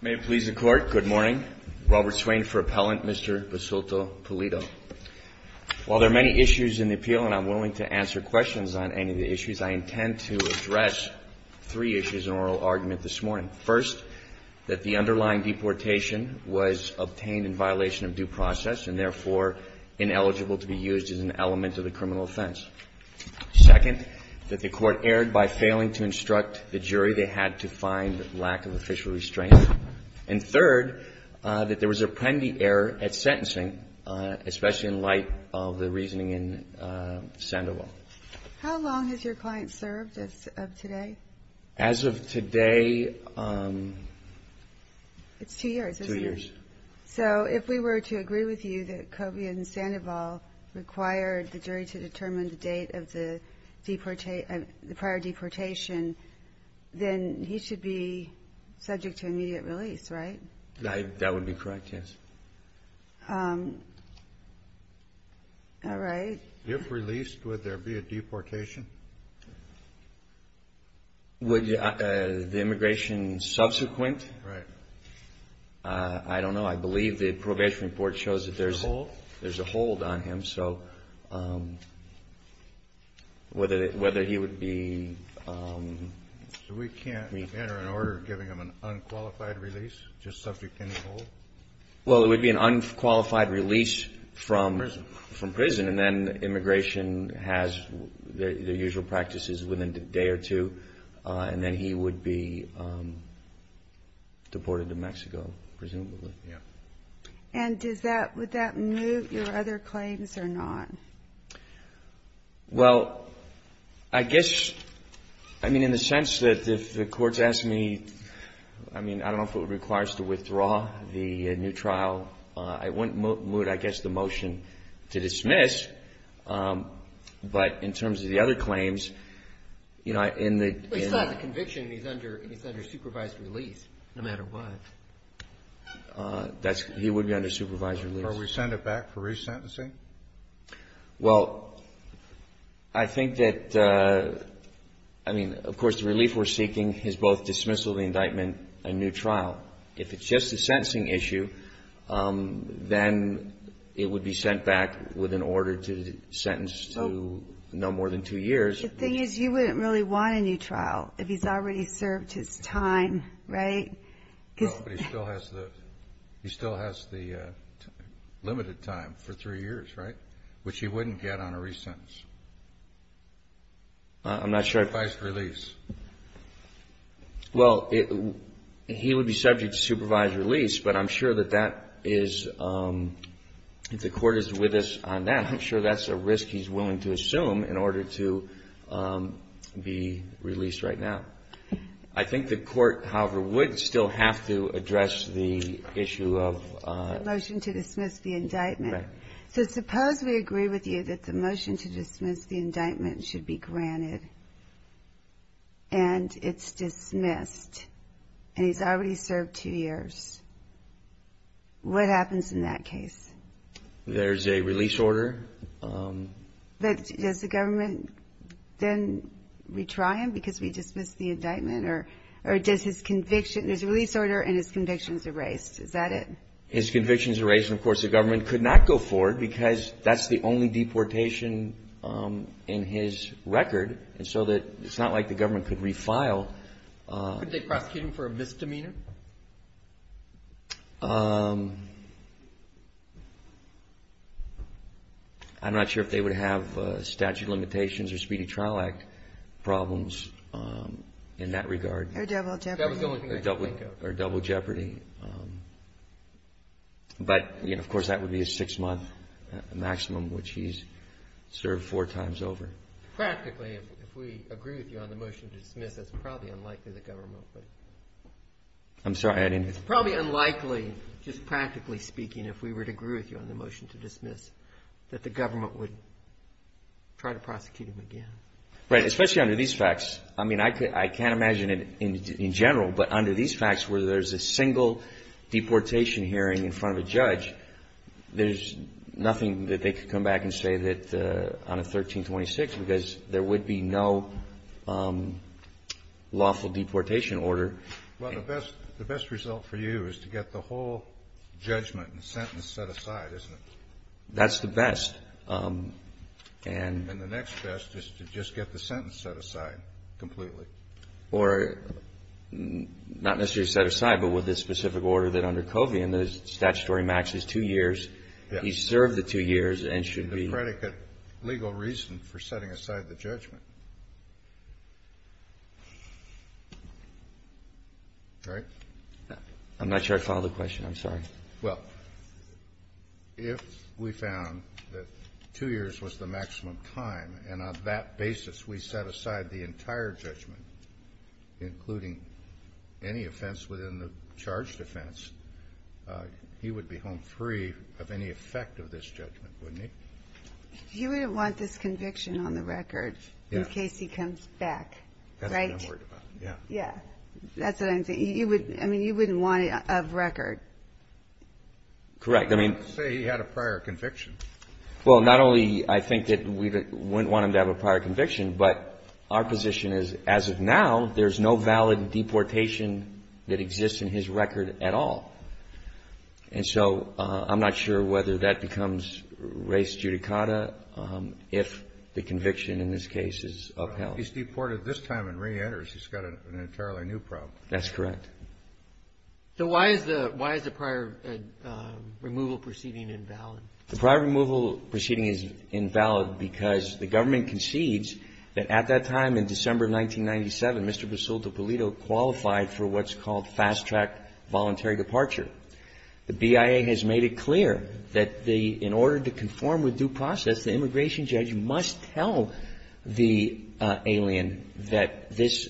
May it please the Court, good morning. Robert Swain for Appellant, Mr. Basulto-Pulido. While there are many issues in the appeal, and I'm willing to answer questions on any of the issues, I intend to address three issues in oral argument this morning. First, that the underlying deportation was obtained in violation of due process and therefore ineligible to be used as an element of the criminal offense. Second, that the Court erred by failing to instruct the jury they had to find lack of official restraint. And third, that there was a premeditated error at sentencing, especially in light of the reasoning in Sandoval. How long has your client served as of today? As of today, two years. So if we were to agree with you that Kovia and Sandoval required the jury to determine the date of the prior deportation, then he should be subject to immediate release, right? That would be correct, yes. All right. If released, would there be a deportation? Would the immigration subsequent? Right. I don't know. I believe the probation report shows that there's a hold on him. So whether he would be released. So we can't enter an order giving him an unqualified release, just subject to any hold? Well, it would be an unqualified release from prison. And then immigration has their usual practices within a day or two. And then he would be deported to Mexico, presumably. Yeah. And would that move your other claims or not? Well, I guess, I mean, in the sense that if the Court's asked me, I mean, I don't know if it requires to withdraw the new trial. I wouldn't move, I guess, the motion to dismiss. But in terms of the other claims, you know, in the ---- But he still has a conviction and he's under supervised release, no matter what. He would be under supervised release. Are we sent it back for resentencing? Well, I think that, I mean, of course, the relief we're seeking is both dismissal of the indictment and new trial. If it's just a sentencing issue, then it would be sent back with an order to sentence to no more than two years. The thing is, you wouldn't really want a new trial if he's already served his time, right? No, but he still has the limited time for three years, right? Which he wouldn't get on a resentence. I'm not sure. Supervised release. Well, he would be subject to supervised release, but I'm sure that that is, if the Court is with us on that, I'm sure that's a risk he's willing to assume in order to be released right now. I think the Court, however, would still have to address the issue of ---- The motion to dismiss the indictment. Right. So suppose we agree with you that the motion to dismiss the indictment should be granted and it's dismissed and he's already served two years. What happens in that case? There's a release order. But does the government then retry him because we dismissed the indictment or does his conviction, his release order and his convictions erased? Is that it? His convictions erased. And, of course, the government could not go forward because that's the only deportation in his record. And so it's not like the government could refile. Couldn't they prosecute him for a misdemeanor? I'm not sure if they would have statute of limitations or speedy trial act problems in that regard. Or double jeopardy. But, of course, that would be a six-month maximum, which he's served four times over. Practically, if we agree with you on the motion to dismiss, it's probably unlikely the government would. I'm sorry. It's probably unlikely, just practically speaking, if we were to agree with you on the motion to dismiss, that the government would try to prosecute him again. Right. Especially under these facts. I mean, I can't imagine it in general, but under these facts, where there's a single deportation hearing in front of a judge, there's nothing that they could come back and say on a 1326 because there would be no lawful deportation order. Well, the best result for you is to get the whole judgment and sentence set aside, isn't it? That's the best. And the next best is to just get the sentence set aside completely. Or not necessarily set aside, but with the specific order that under Covian, the statutory max is two years. Yes. He's served the two years and should be. The predicate legal reason for setting aside the judgment. Right? I'm not sure I followed the question. I'm sorry. Well, if we found that two years was the maximum time and on that basis, we set aside the entire judgment, including any offense within the charge defense, he would be home free of any effect of this judgment, wouldn't he? He wouldn't want this conviction on the record in case he comes back. Right. Yeah. Yeah. That's what I'm saying. I mean, you wouldn't want it of record. Correct. I mean. Let's say he had a prior conviction. Well, not only I think that we wouldn't want him to have a prior conviction, but our position is as of now there's no valid deportation that exists in his record at all. And so I'm not sure whether that becomes res judicata if the conviction in this case is upheld. He's deported this time and reenters. He's got an entirely new problem. That's correct. So why is the prior removal proceeding invalid? The prior removal proceeding is invalid because the government concedes that at that time in December of 1997, Mr. Basulto Pulido qualified for what's called fast-track voluntary departure. The BIA has made it clear that in order to conform with due process, the immigration judge must tell the alien that this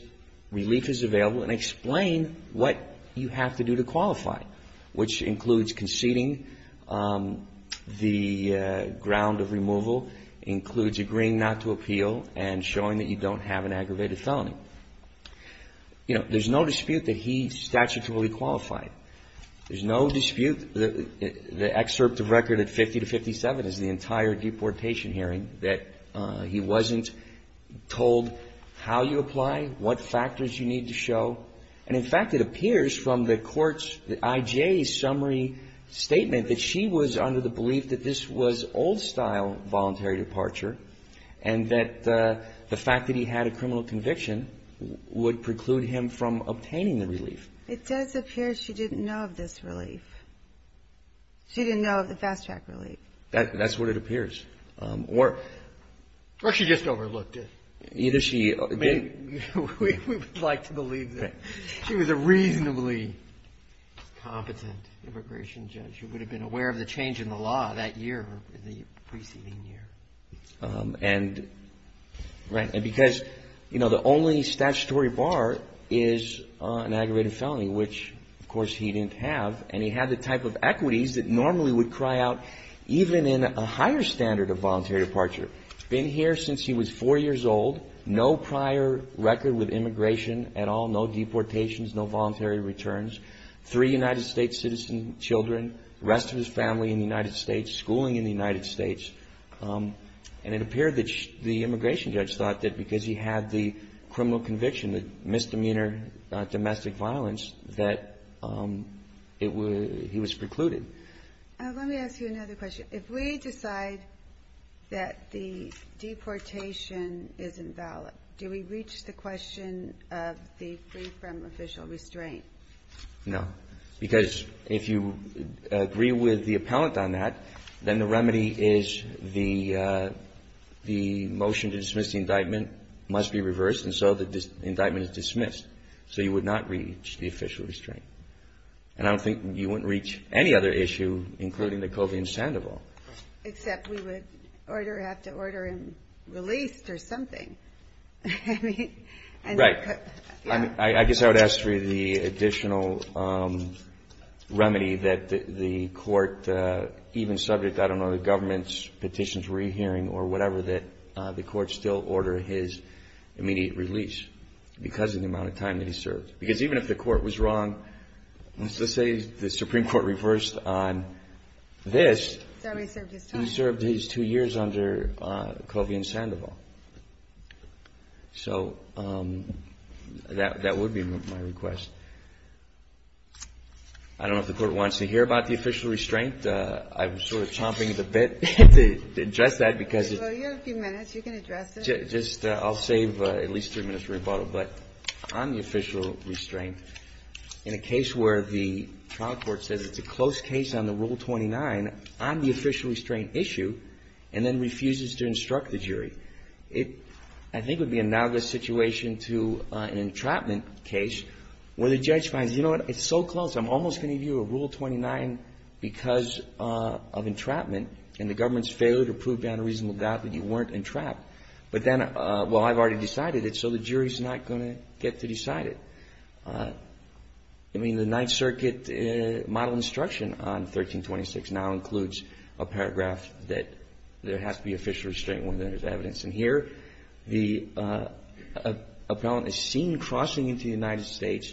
relief is available and explain what you have to do to qualify, which includes conceding the ground of removal, includes agreeing not to appeal, and showing that you don't have an aggravated felony. You know, there's no dispute that he statutorily qualified. There's no dispute that the excerpt of record at 50 to 57 is the entire deportation hearing, that he wasn't told how you apply, what factors you need to show. And, in fact, it appears from the court's, the IJA's, summary statement that she was under the belief that this was old-style voluntary departure and that the fact that he had a criminal conviction would preclude him from obtaining the relief. It does appear she didn't know of this relief. She didn't know of the fast-track relief. That's what it appears. Or she just overlooked it. Either she didn't. We would like to believe that. She was a reasonably competent immigration judge who would have been aware of the change in the law that year, the preceding year. And because, you know, the only statutory bar is an aggravated felony, which, of course, he didn't have. And he had the type of equities that normally would cry out even in a higher standard of voluntary departure. Been here since he was four years old. No prior record with immigration at all. No deportations. No voluntary returns. Three United States citizen children. The rest of his family in the United States. Schooling in the United States. And it appeared that the immigration judge thought that because he had the criminal conviction, the misdemeanor domestic violence, that it would he was precluded. Let me ask you another question. If we decide that the deportation is invalid, do we reach the question of the free from official restraint? No. Because if you agree with the appellant on that, then the remedy is the motion to dismiss the indictment must be reversed. And so the indictment is dismissed. So you would not reach the official restraint. And I don't think you wouldn't reach any other issue, including the COVID in Sandoval. Except we would have to order him released or something. Right. I guess I would ask for the additional remedy that the court, even subject, I don't know, the government's petitions re-hearing or whatever, that the court still order his immediate release because of the amount of time that he served. Because even if the court was wrong, let's just say the Supreme Court reversed on this. He served his two years under COVID in Sandoval. So that would be my request. I don't know if the court wants to hear about the official restraint. I'm sort of chomping at the bit to address that because it's just I'll save at least three minutes for rebuttal. But on the official restraint, in a case where the trial court says it's a close case on the Rule 29, on the official restraint issue, and then refuses to instruct the jury. It, I think, would be analogous situation to an entrapment case where the judge finds, you know what, it's so close. I'm almost going to give you a Rule 29 because of entrapment and the government's failure to prove beyond a reasonable doubt that you weren't entrapped. But then, well, I've already decided it, so the jury's not going to get to decide it. I mean, the Ninth Circuit model instruction on 1326 now includes a paragraph that there has to be official restraint when there's evidence. And here, the appellant is seen crossing into the United States,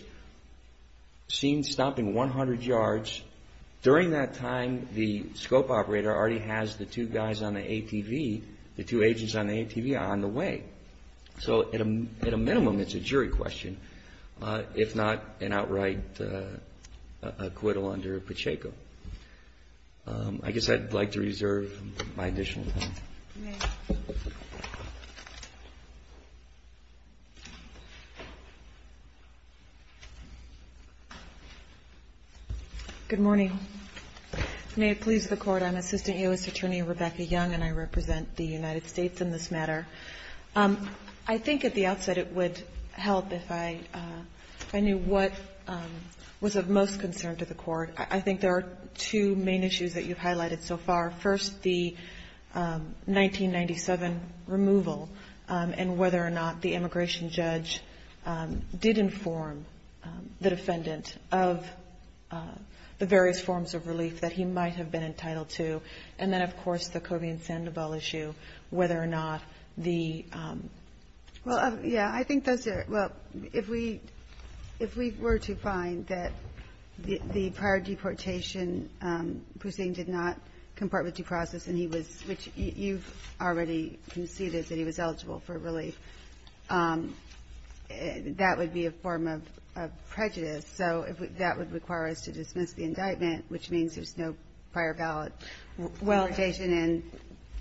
seen stopping 100 yards. During that time, the scope operator already has the two guys on the ATV, the two agents on the ATV, on the way. So at a minimum, it's a jury question, if not an outright acquittal under Pacheco. I guess I'd like to reserve my additional time. Good morning. May it please the Court. I'm Assistant U.S. Attorney Rebecca Young, and I represent the United States in this matter. I think at the outset it would help if I knew what was of most concern to the Court. I think there are two main issues that you've highlighted so far. First, the 1997 removal and whether or not the immigration judge did inform the defendant of the various forms of relief that he might have been entitled to. And then, of course, the Cobie and Sandoval issue, whether or not the ---- Well, yeah. I think those are ---- well, if we were to find that the prior deportation, Pussing did not comport with due process and he was ---- which you've already conceded that he was eligible for relief, that would be a form of prejudice. So that would require us to dismiss the indictment, which means there's no prior ballot. Well ----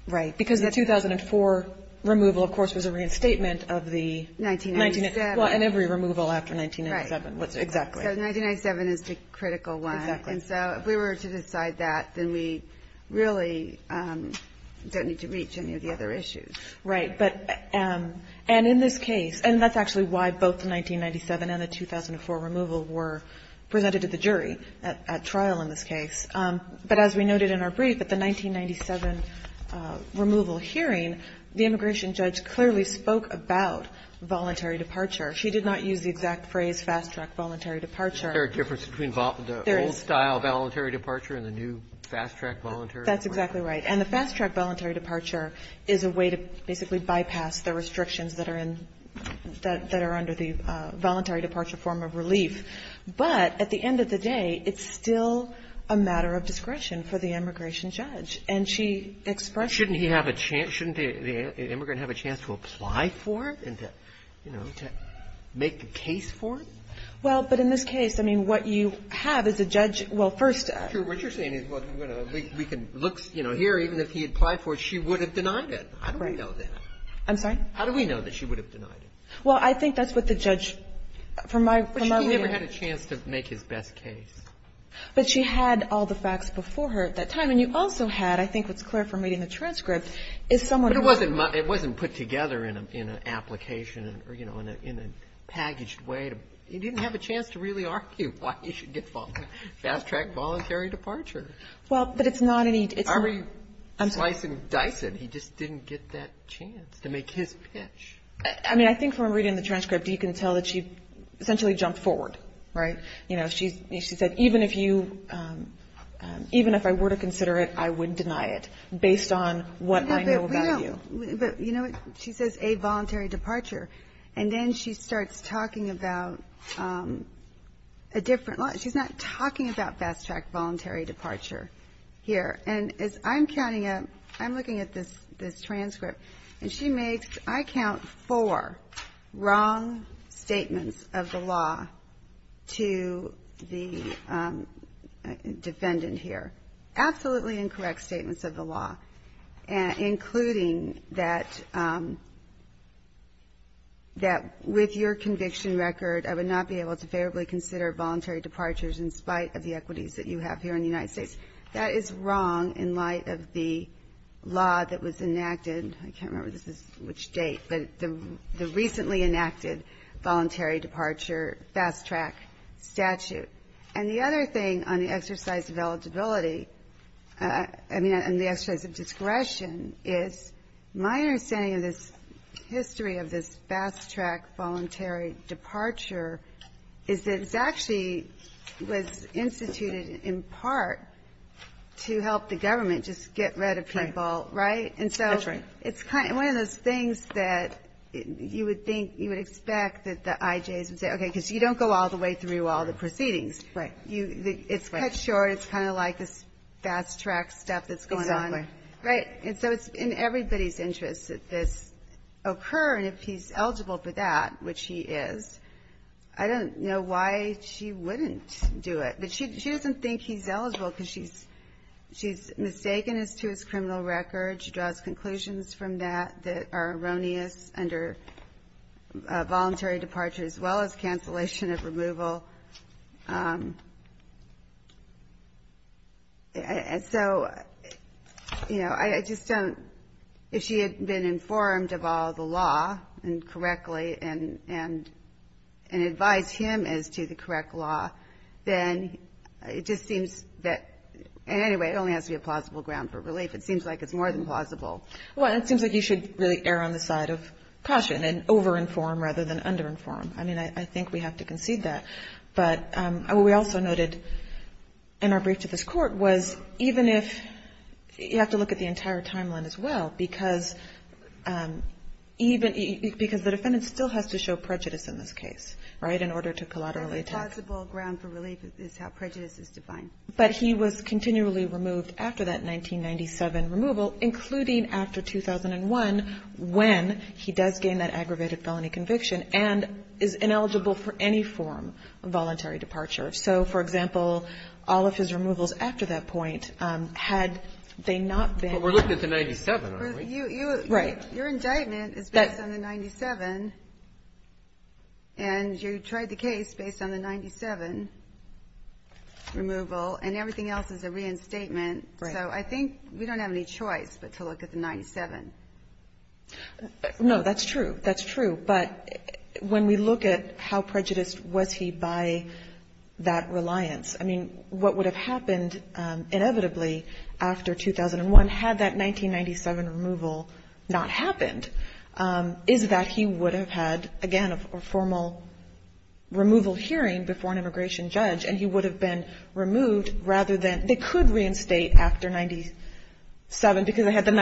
Right. Because the 2004 removal, of course, was a reinstatement of the ---- 1997. Well, and every removal after 1997. Right. Exactly. So 1997 is the critical one. Exactly. And so if we were to decide that, then we really don't need to reach any of the other issues. Right. But ---- and in this case, and that's actually why both the 1997 and the 2004 removal were presented to the jury at trial in this case. But as we noted in our brief, at the 1997 removal hearing, the immigration judge clearly spoke about voluntary departure. She did not use the exact phrase, fast-track voluntary departure. Is there a difference between the old-style voluntary departure and the new fast-track voluntary departure? That's exactly right. And the fast-track voluntary departure is a way to basically bypass the restrictions that are in ---- that are under the voluntary departure form of relief. But at the end of the day, it's still a matter of discretion for the immigration judge. And she expressed ---- Shouldn't he have a chance? Shouldn't the immigrant have a chance to apply for it and to, you know, to make a case for it? Well, but in this case, I mean, what you have is a judge ---- well, first ---- What you're saying is, well, we can look, you know, here, even if he had applied for it, she would have denied it. How do we know that? I'm sorry? How do we know that she would have denied it? Well, I think that's what the judge ---- Well, she never had a chance to make his best case. But she had all the facts before her at that time. And you also had, I think what's clear from reading the transcript, is someone who ---- But it wasn't put together in an application or, you know, in a packaged way. He didn't have a chance to really argue why he should get fast-track voluntary departure. Well, but it's not any ---- I mean, slice and dice it. He just didn't get that chance to make his pitch. I mean, I think from reading the transcript, you can tell that she essentially jumped forward. Right? You know, she said, even if you ---- even if I were to consider it, I would deny it, based on what I know about you. But, you know, she says a voluntary departure. And then she starts talking about a different law. She's not talking about fast-track voluntary departure here. And as I'm counting it, I'm looking at this transcript. And she makes, I count, four wrong statements of the law to the defendant here. Absolutely incorrect statements of the law, including that with your conviction record, I would not be able to favorably consider voluntary departures in spite of the equities that you have here in the United States. That is wrong in light of the law that was enacted. I can't remember which date, but the recently enacted voluntary departure fast-track statute. And the other thing on the exercise of eligibility, I mean, on the exercise of discretion is my understanding of this history of this fast-track voluntary departure is that it actually was instituted in part to help the government just get rid of people, right? And so it's kind of one of those things that you would think, you would expect that the IJs would say, okay, because you don't go all the way through all the proceedings. It's cut short. It's kind of like this fast-track stuff that's going on. Right. And so it's in everybody's interest that this occur, and if he's eligible for that, which he is, I don't know why she wouldn't do it. But she doesn't think he's eligible because she's mistaken as to his criminal record. She draws conclusions from that that are erroneous under voluntary departure as well as cancellation of removal. And so, you know, I just don't, if she had been informed of all the law and correctly and advised him as to the correct law, then it just seems that, and anyway, it only has to be a plausible ground for relief. It seems like it's more than plausible. Well, it seems like you should really err on the side of caution and over-inform rather than under-inform. I mean, I think we have to concede that. But what we also noted in our brief to this Court was even if, you have to look at the entire timeline as well, because even, because the defendant still has to show prejudice in this case, right, in order to collaterally attack. A plausible ground for relief is how prejudice is defined. But he was continually removed after that 1997 removal, including after 2001 when he does gain that aggravated felony conviction and is ineligible for any form of voluntary departure. So, for example, all of his removals after that point, had they not been ---- But we're looking at the 97, aren't we? Right. Your indictment is based on the 97, and you tried the case based on the 97 removal, and everything else is a reinstatement. Right. No, that's true. That's true. But when we look at how prejudiced was he by that reliance, I mean, what would have happened inevitably after 2001, had that 1997 removal not happened, is that he would have had, again, a formal removal hearing before an immigration judge, and he would have been removed rather than ---- they could reinstate after 97 because they had the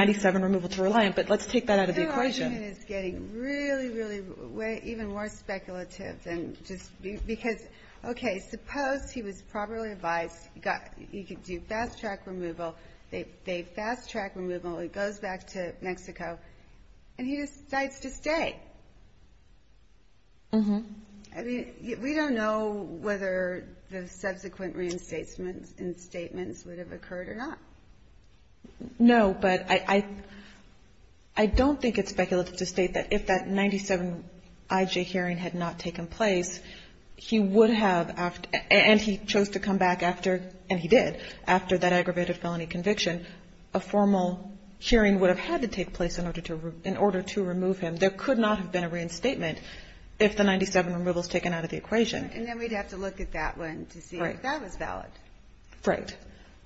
client, but let's take that out of the equation. Your argument is getting really, really even more speculative than just because, okay, suppose he was properly advised, you could do fast-track removal, they fast-track removal, it goes back to Mexico, and he decides to stay. Mm-hmm. I mean, we don't know whether the subsequent reinstatements and statements would have occurred or not. No, but I don't think it's speculative to state that if that 97 IJ hearing had not taken place, he would have, and he chose to come back after, and he did, after that aggravated felony conviction, a formal hearing would have had to take place in order to remove him. There could not have been a reinstatement if the 97 removal was taken out of the equation. And then we'd have to look at that one to see if that was valid. Right.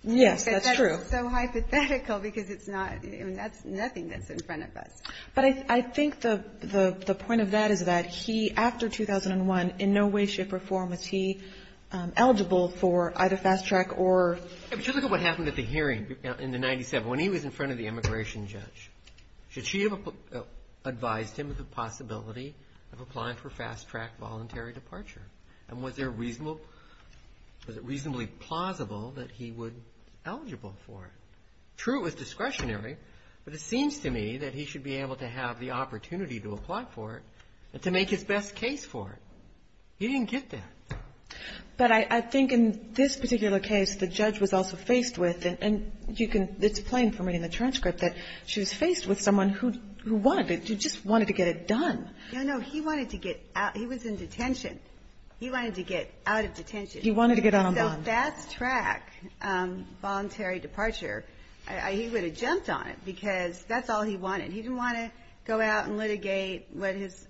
Yes, that's true. But that's so hypothetical because it's not, I mean, that's nothing that's in front of us. But I think the point of that is that he, after 2001, in no way, shape, or form was he eligible for either fast-track or — Just look at what happened at the hearing in the 97. When he was in front of the immigration judge, should she have advised him of the possibility of applying for fast-track voluntary departure? And was there reasonable, was it reasonably plausible that he would be eligible for it? True, it was discretionary, but it seems to me that he should be able to have the opportunity to apply for it and to make his best case for it. He didn't get that. But I think in this particular case, the judge was also faced with, and you can, it's plain from reading the transcript, that she was faced with someone who wanted to, just wanted to get it done. No, no. He wanted to get out. He was in detention. He wanted to get out of detention. He wanted to get out on bond. So fast-track voluntary departure, he would have jumped on it because that's all he wanted. He didn't want to go out and litigate what his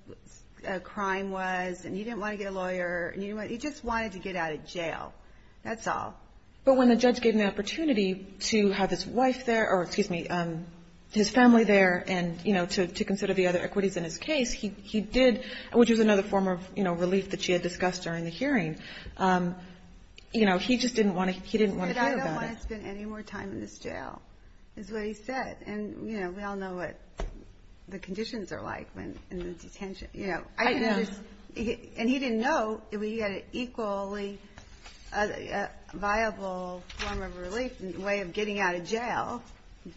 crime was, and he didn't want to get a lawyer. He just wanted to get out of jail. That's all. But when the judge gave him the opportunity to have his wife there, or excuse me, his family there, and, you know, to consider the other equities in his case, he did, which was another form of, you know, relief that she had discussed during the hearing. You know, he just didn't want to, he didn't want to talk about it. But I don't want to spend any more time in this jail, is what he said. And, you know, we all know what the conditions are like when, in the detention. I know. And he didn't know that we had an equally viable form of relief, a way of getting out of jail,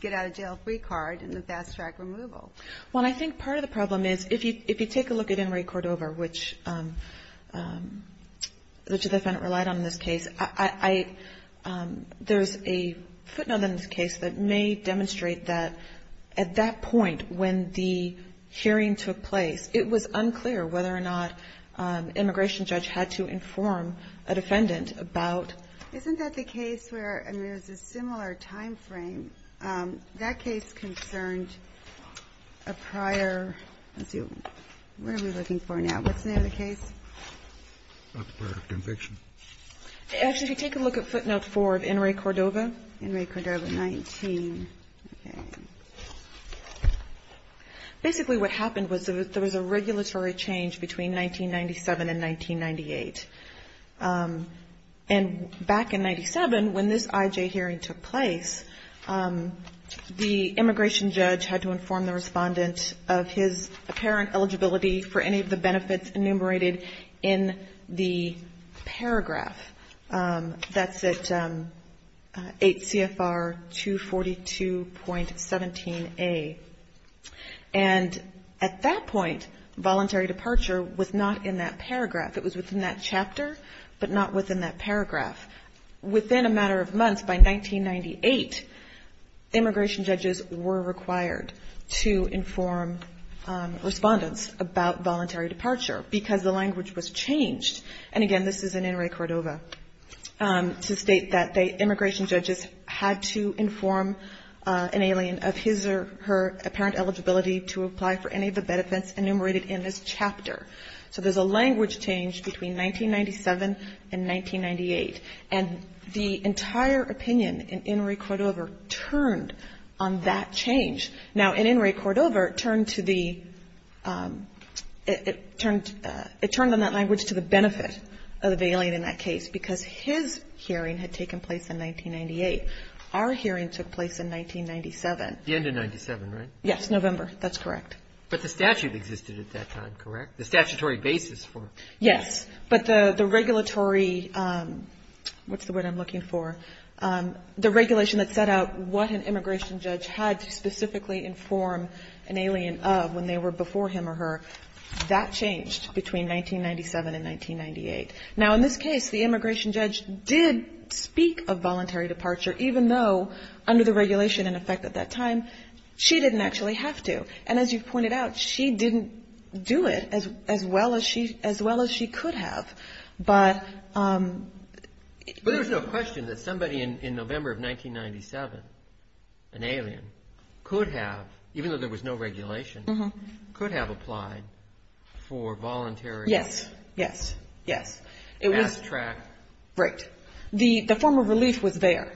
get out of jail free card, and the fast-track removal. Well, and I think part of the problem is, if you take a look at Henry Cordova, which the defendant relied on in this case, I, there's a footnote in this case that may demonstrate that at that point when the hearing took place, it was unclear whether or not an immigration judge had to inform a defendant about. Isn't that the case where, I mean, there's a similar time frame. That case concerned a prior, let's see, what are we looking for now? What's the name of the case? A prior conviction. Actually, if you take a look at footnote four of Henry Cordova. Henry Cordova, 19. Okay. Basically what happened was there was a regulatory change between 1997 and 1998. And back in 1997, when this IJ hearing took place, the immigration judge had to inform the respondent of his apparent eligibility for any of the benefits enumerated in the paragraph. That's at 8 CFR 242.17A. And at that point, voluntary departure was not in that paragraph. It was within that chapter, but not within that paragraph. Within a matter of months, by 1998, immigration judges were required to inform respondents about voluntary departure because the language was changed. And again, this is in Henry Cordova, to state that the immigration judges had to inform an alien of his or her apparent eligibility to apply for any of the benefits enumerated in this chapter. So there's a language change between 1997 and 1998. And the entire opinion in Henry Cordova turned on that change. Now, in Henry Cordova, it turned to the – it turned on that language to the benefit of the alien in that case because his hearing had taken place in 1998. Our hearing took place in 1997. The end of 1997, right? Yes, November. That's correct. But the statute existed at that time, correct? The statutory basis for it. Yes. But the regulatory – what's the word I'm looking for? The regulation that set out what an immigration judge had to specifically inform an alien of when they were before him or her, that changed between 1997 and 1998. Now, in this case, the immigration judge did speak of voluntary departure, even though under the regulation in effect at that time, she didn't actually have to. And as you've pointed out, she didn't do it as well as she could have. But – But there's no question that somebody in November of 1997, an alien, could have, even though there was no regulation, could have applied for voluntary – Yes, yes, yes. Mass track. Right. The form of relief was there.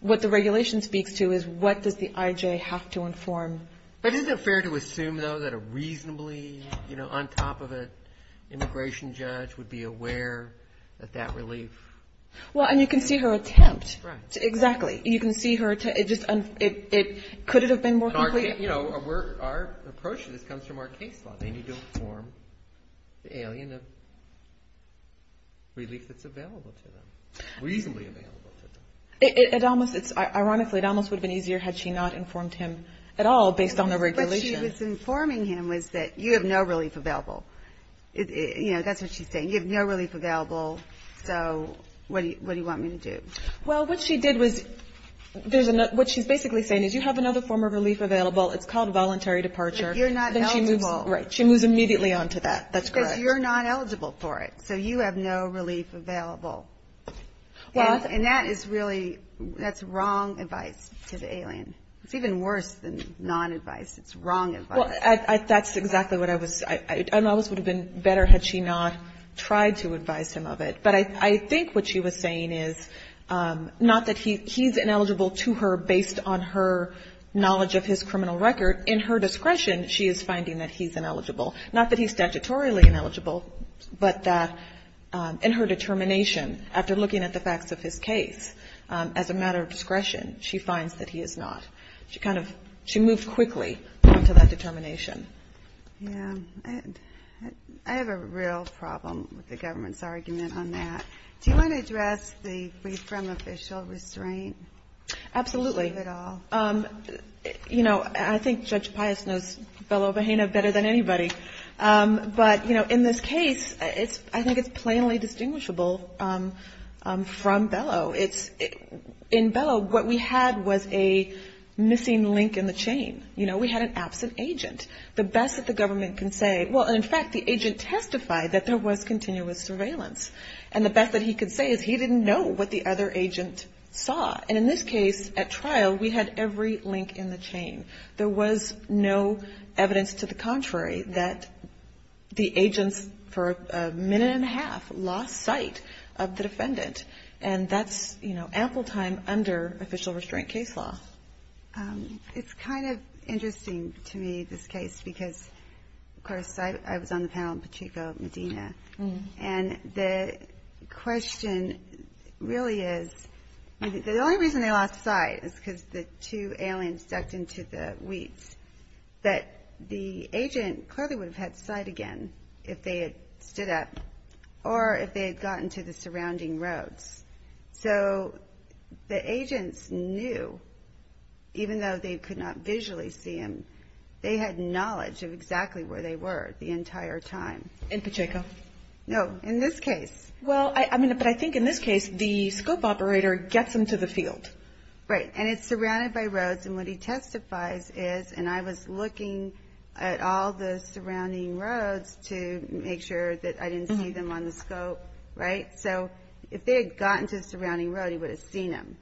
What the regulation speaks to is what does the IJ have to inform. But isn't it fair to assume, though, that a reasonably, you know, on top of an immigration judge would be aware of that relief? Well, and you can see her attempt. Right. Exactly. You can see her attempt. It just – could it have been more complete? You know, our approach to this comes from our case law. They need to inform the alien of relief that's available to them, reasonably available to them. Ironically, it almost would have been easier had she not informed him at all based on the regulation. What she was informing him was that you have no relief available. You know, that's what she's saying. You have no relief available, so what do you want me to do? Well, what she did was – what she's basically saying is you have another form of relief available. It's called voluntary departure. But you're not eligible. Right. She moves immediately on to that. That's correct. Because you're not eligible for it, so you have no relief available. And that is really – that's wrong advice to the alien. It's even worse than non-advice. It's wrong advice. Well, that's exactly what I was – it almost would have been better had she not tried to advise him of it. But I think what she was saying is not that he's ineligible to her based on her knowledge of his criminal record. In her discretion, she is finding that he's ineligible. Not that he's statutorily ineligible, but that in her determination, after looking at the facts of his case, as a matter of discretion, she finds that he is not. She kind of – she moved quickly on to that determination. Yeah. I have a real problem with the government's argument on that. Do you want to address the brief from official restraint? Absolutely. Give it all. You know, I think Judge Pius knows Bello-Vahena better than anybody. But, you know, in this case, I think it's plainly distinguishable from Bello. In Bello, what we had was a missing link in the chain. You know, we had an absent agent. The best that the government can say – well, in fact, the agent testified that there was continuous surveillance. And the best that he could say is he didn't know what the other agent saw. And in this case, at trial, we had every link in the chain. There was no evidence to the contrary that the agents, for a minute and a half, lost sight of the defendant. And that's, you know, ample time under official restraint case law. It's kind of interesting to me, this case, because, of course, I was on the panel in particular with Medina. And the question really is – the only reason they lost sight is because the two aliens ducked into the weeds. But the agent clearly would have had sight again if they had stood up or if they had gotten to the surrounding roads. So the agents knew, even though they could not visually see him, they had knowledge of exactly where they were the entire time. In Pacheco? No, in this case. Well, I mean, but I think in this case, the scope operator gets them to the field. Right. And it's surrounded by roads. And what he testifies is – and I was looking at all the surrounding roads to make sure that I didn't see them on the scope, right? So if they had gotten to the surrounding road, he would have seen them.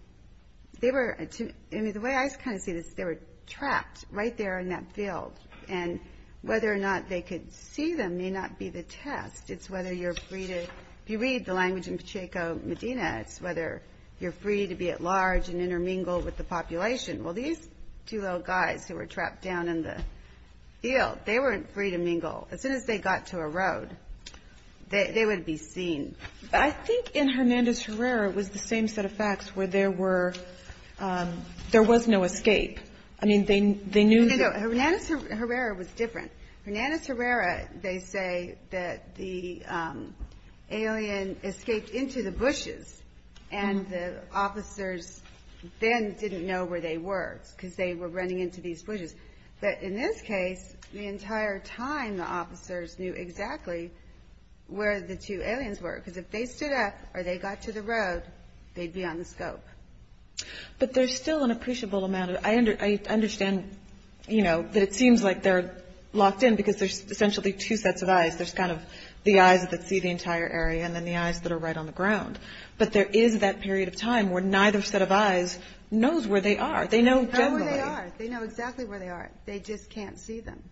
They were – I mean, the way I kind of see this, they were trapped right there in that field. And whether or not they could see them may not be the test. It's whether you're free to – if you read the language in Pacheco, Medina, it's whether you're free to be at large and intermingle with the population. Well, these two little guys who were trapped down in the field, they weren't free to mingle. As soon as they got to a road, they would be seen. I think in Hernandez-Herrera, it was the same set of facts, where there were – there was no escape. I mean, they knew – No, no, no. Hernandez-Herrera was different. Hernandez-Herrera, they say that the alien escaped into the bushes and the officers then didn't know where they were because they were running into these bushes. But in this case, the entire time, the officers knew exactly where the two aliens were because if they stood up or they got to the road, they'd be on the scope. But there's still an appreciable amount of – I understand, you know, that it seems like they're locked in because there's essentially two sets of eyes. There's kind of the eyes that see the entire area and then the eyes that are right on the ground. But there is that period of time where neither set of eyes knows where they are. They know generally. They know where they are. They know exactly where they are. They just can't see them.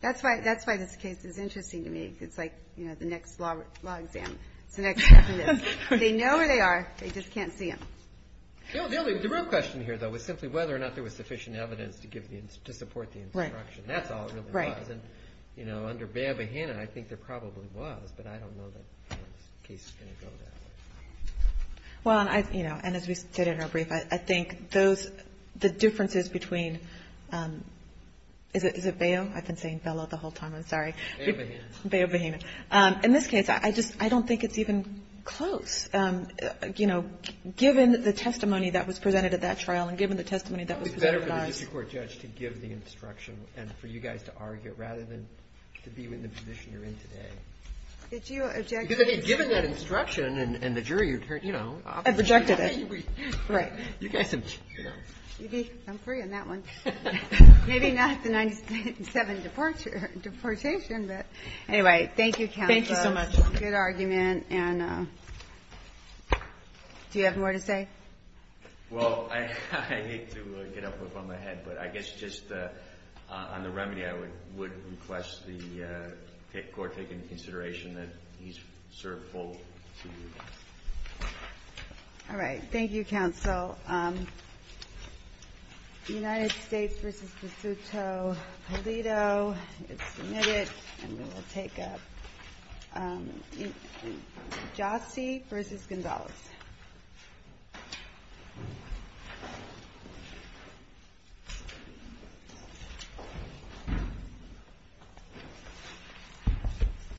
That's why this case is interesting to me. It's like, you know, the next law exam. It's the next step in this. They know where they are. They just can't see them. The real question here, though, is simply whether or not there was sufficient evidence to support the instruction. That's all it really was. Right. And, you know, under Bayo Bahena, I think there probably was, but I don't know that this case is going to go that way. Well, you know, and as we said in our brief, I think those – the differences between – is it Bayo? I've been saying Bella the whole time. I'm sorry. Bayo Bahena. Bayo Bahena. In this case, I just – I don't think it's even close. You know, given the testimony that was presented at that trial and given the testimony that was presented at ours. It would be better for the district court judge to give the instruction and for you guys to argue, rather than to be in the position you're in today. Did you object to it? Given that instruction and the jury, you know. I rejected it. Right. You guys have, you know. I'm free on that one. Thank you so much. Good argument. And do you have more to say? Well, I need to get up on my head. But I guess just on the remedy, I would request the court take into consideration that he's served full two years. All right. Thank you, counsel. United States v. DeSoto-Paleto. It's submitted. And we will take up Jossie v. Gonzalez.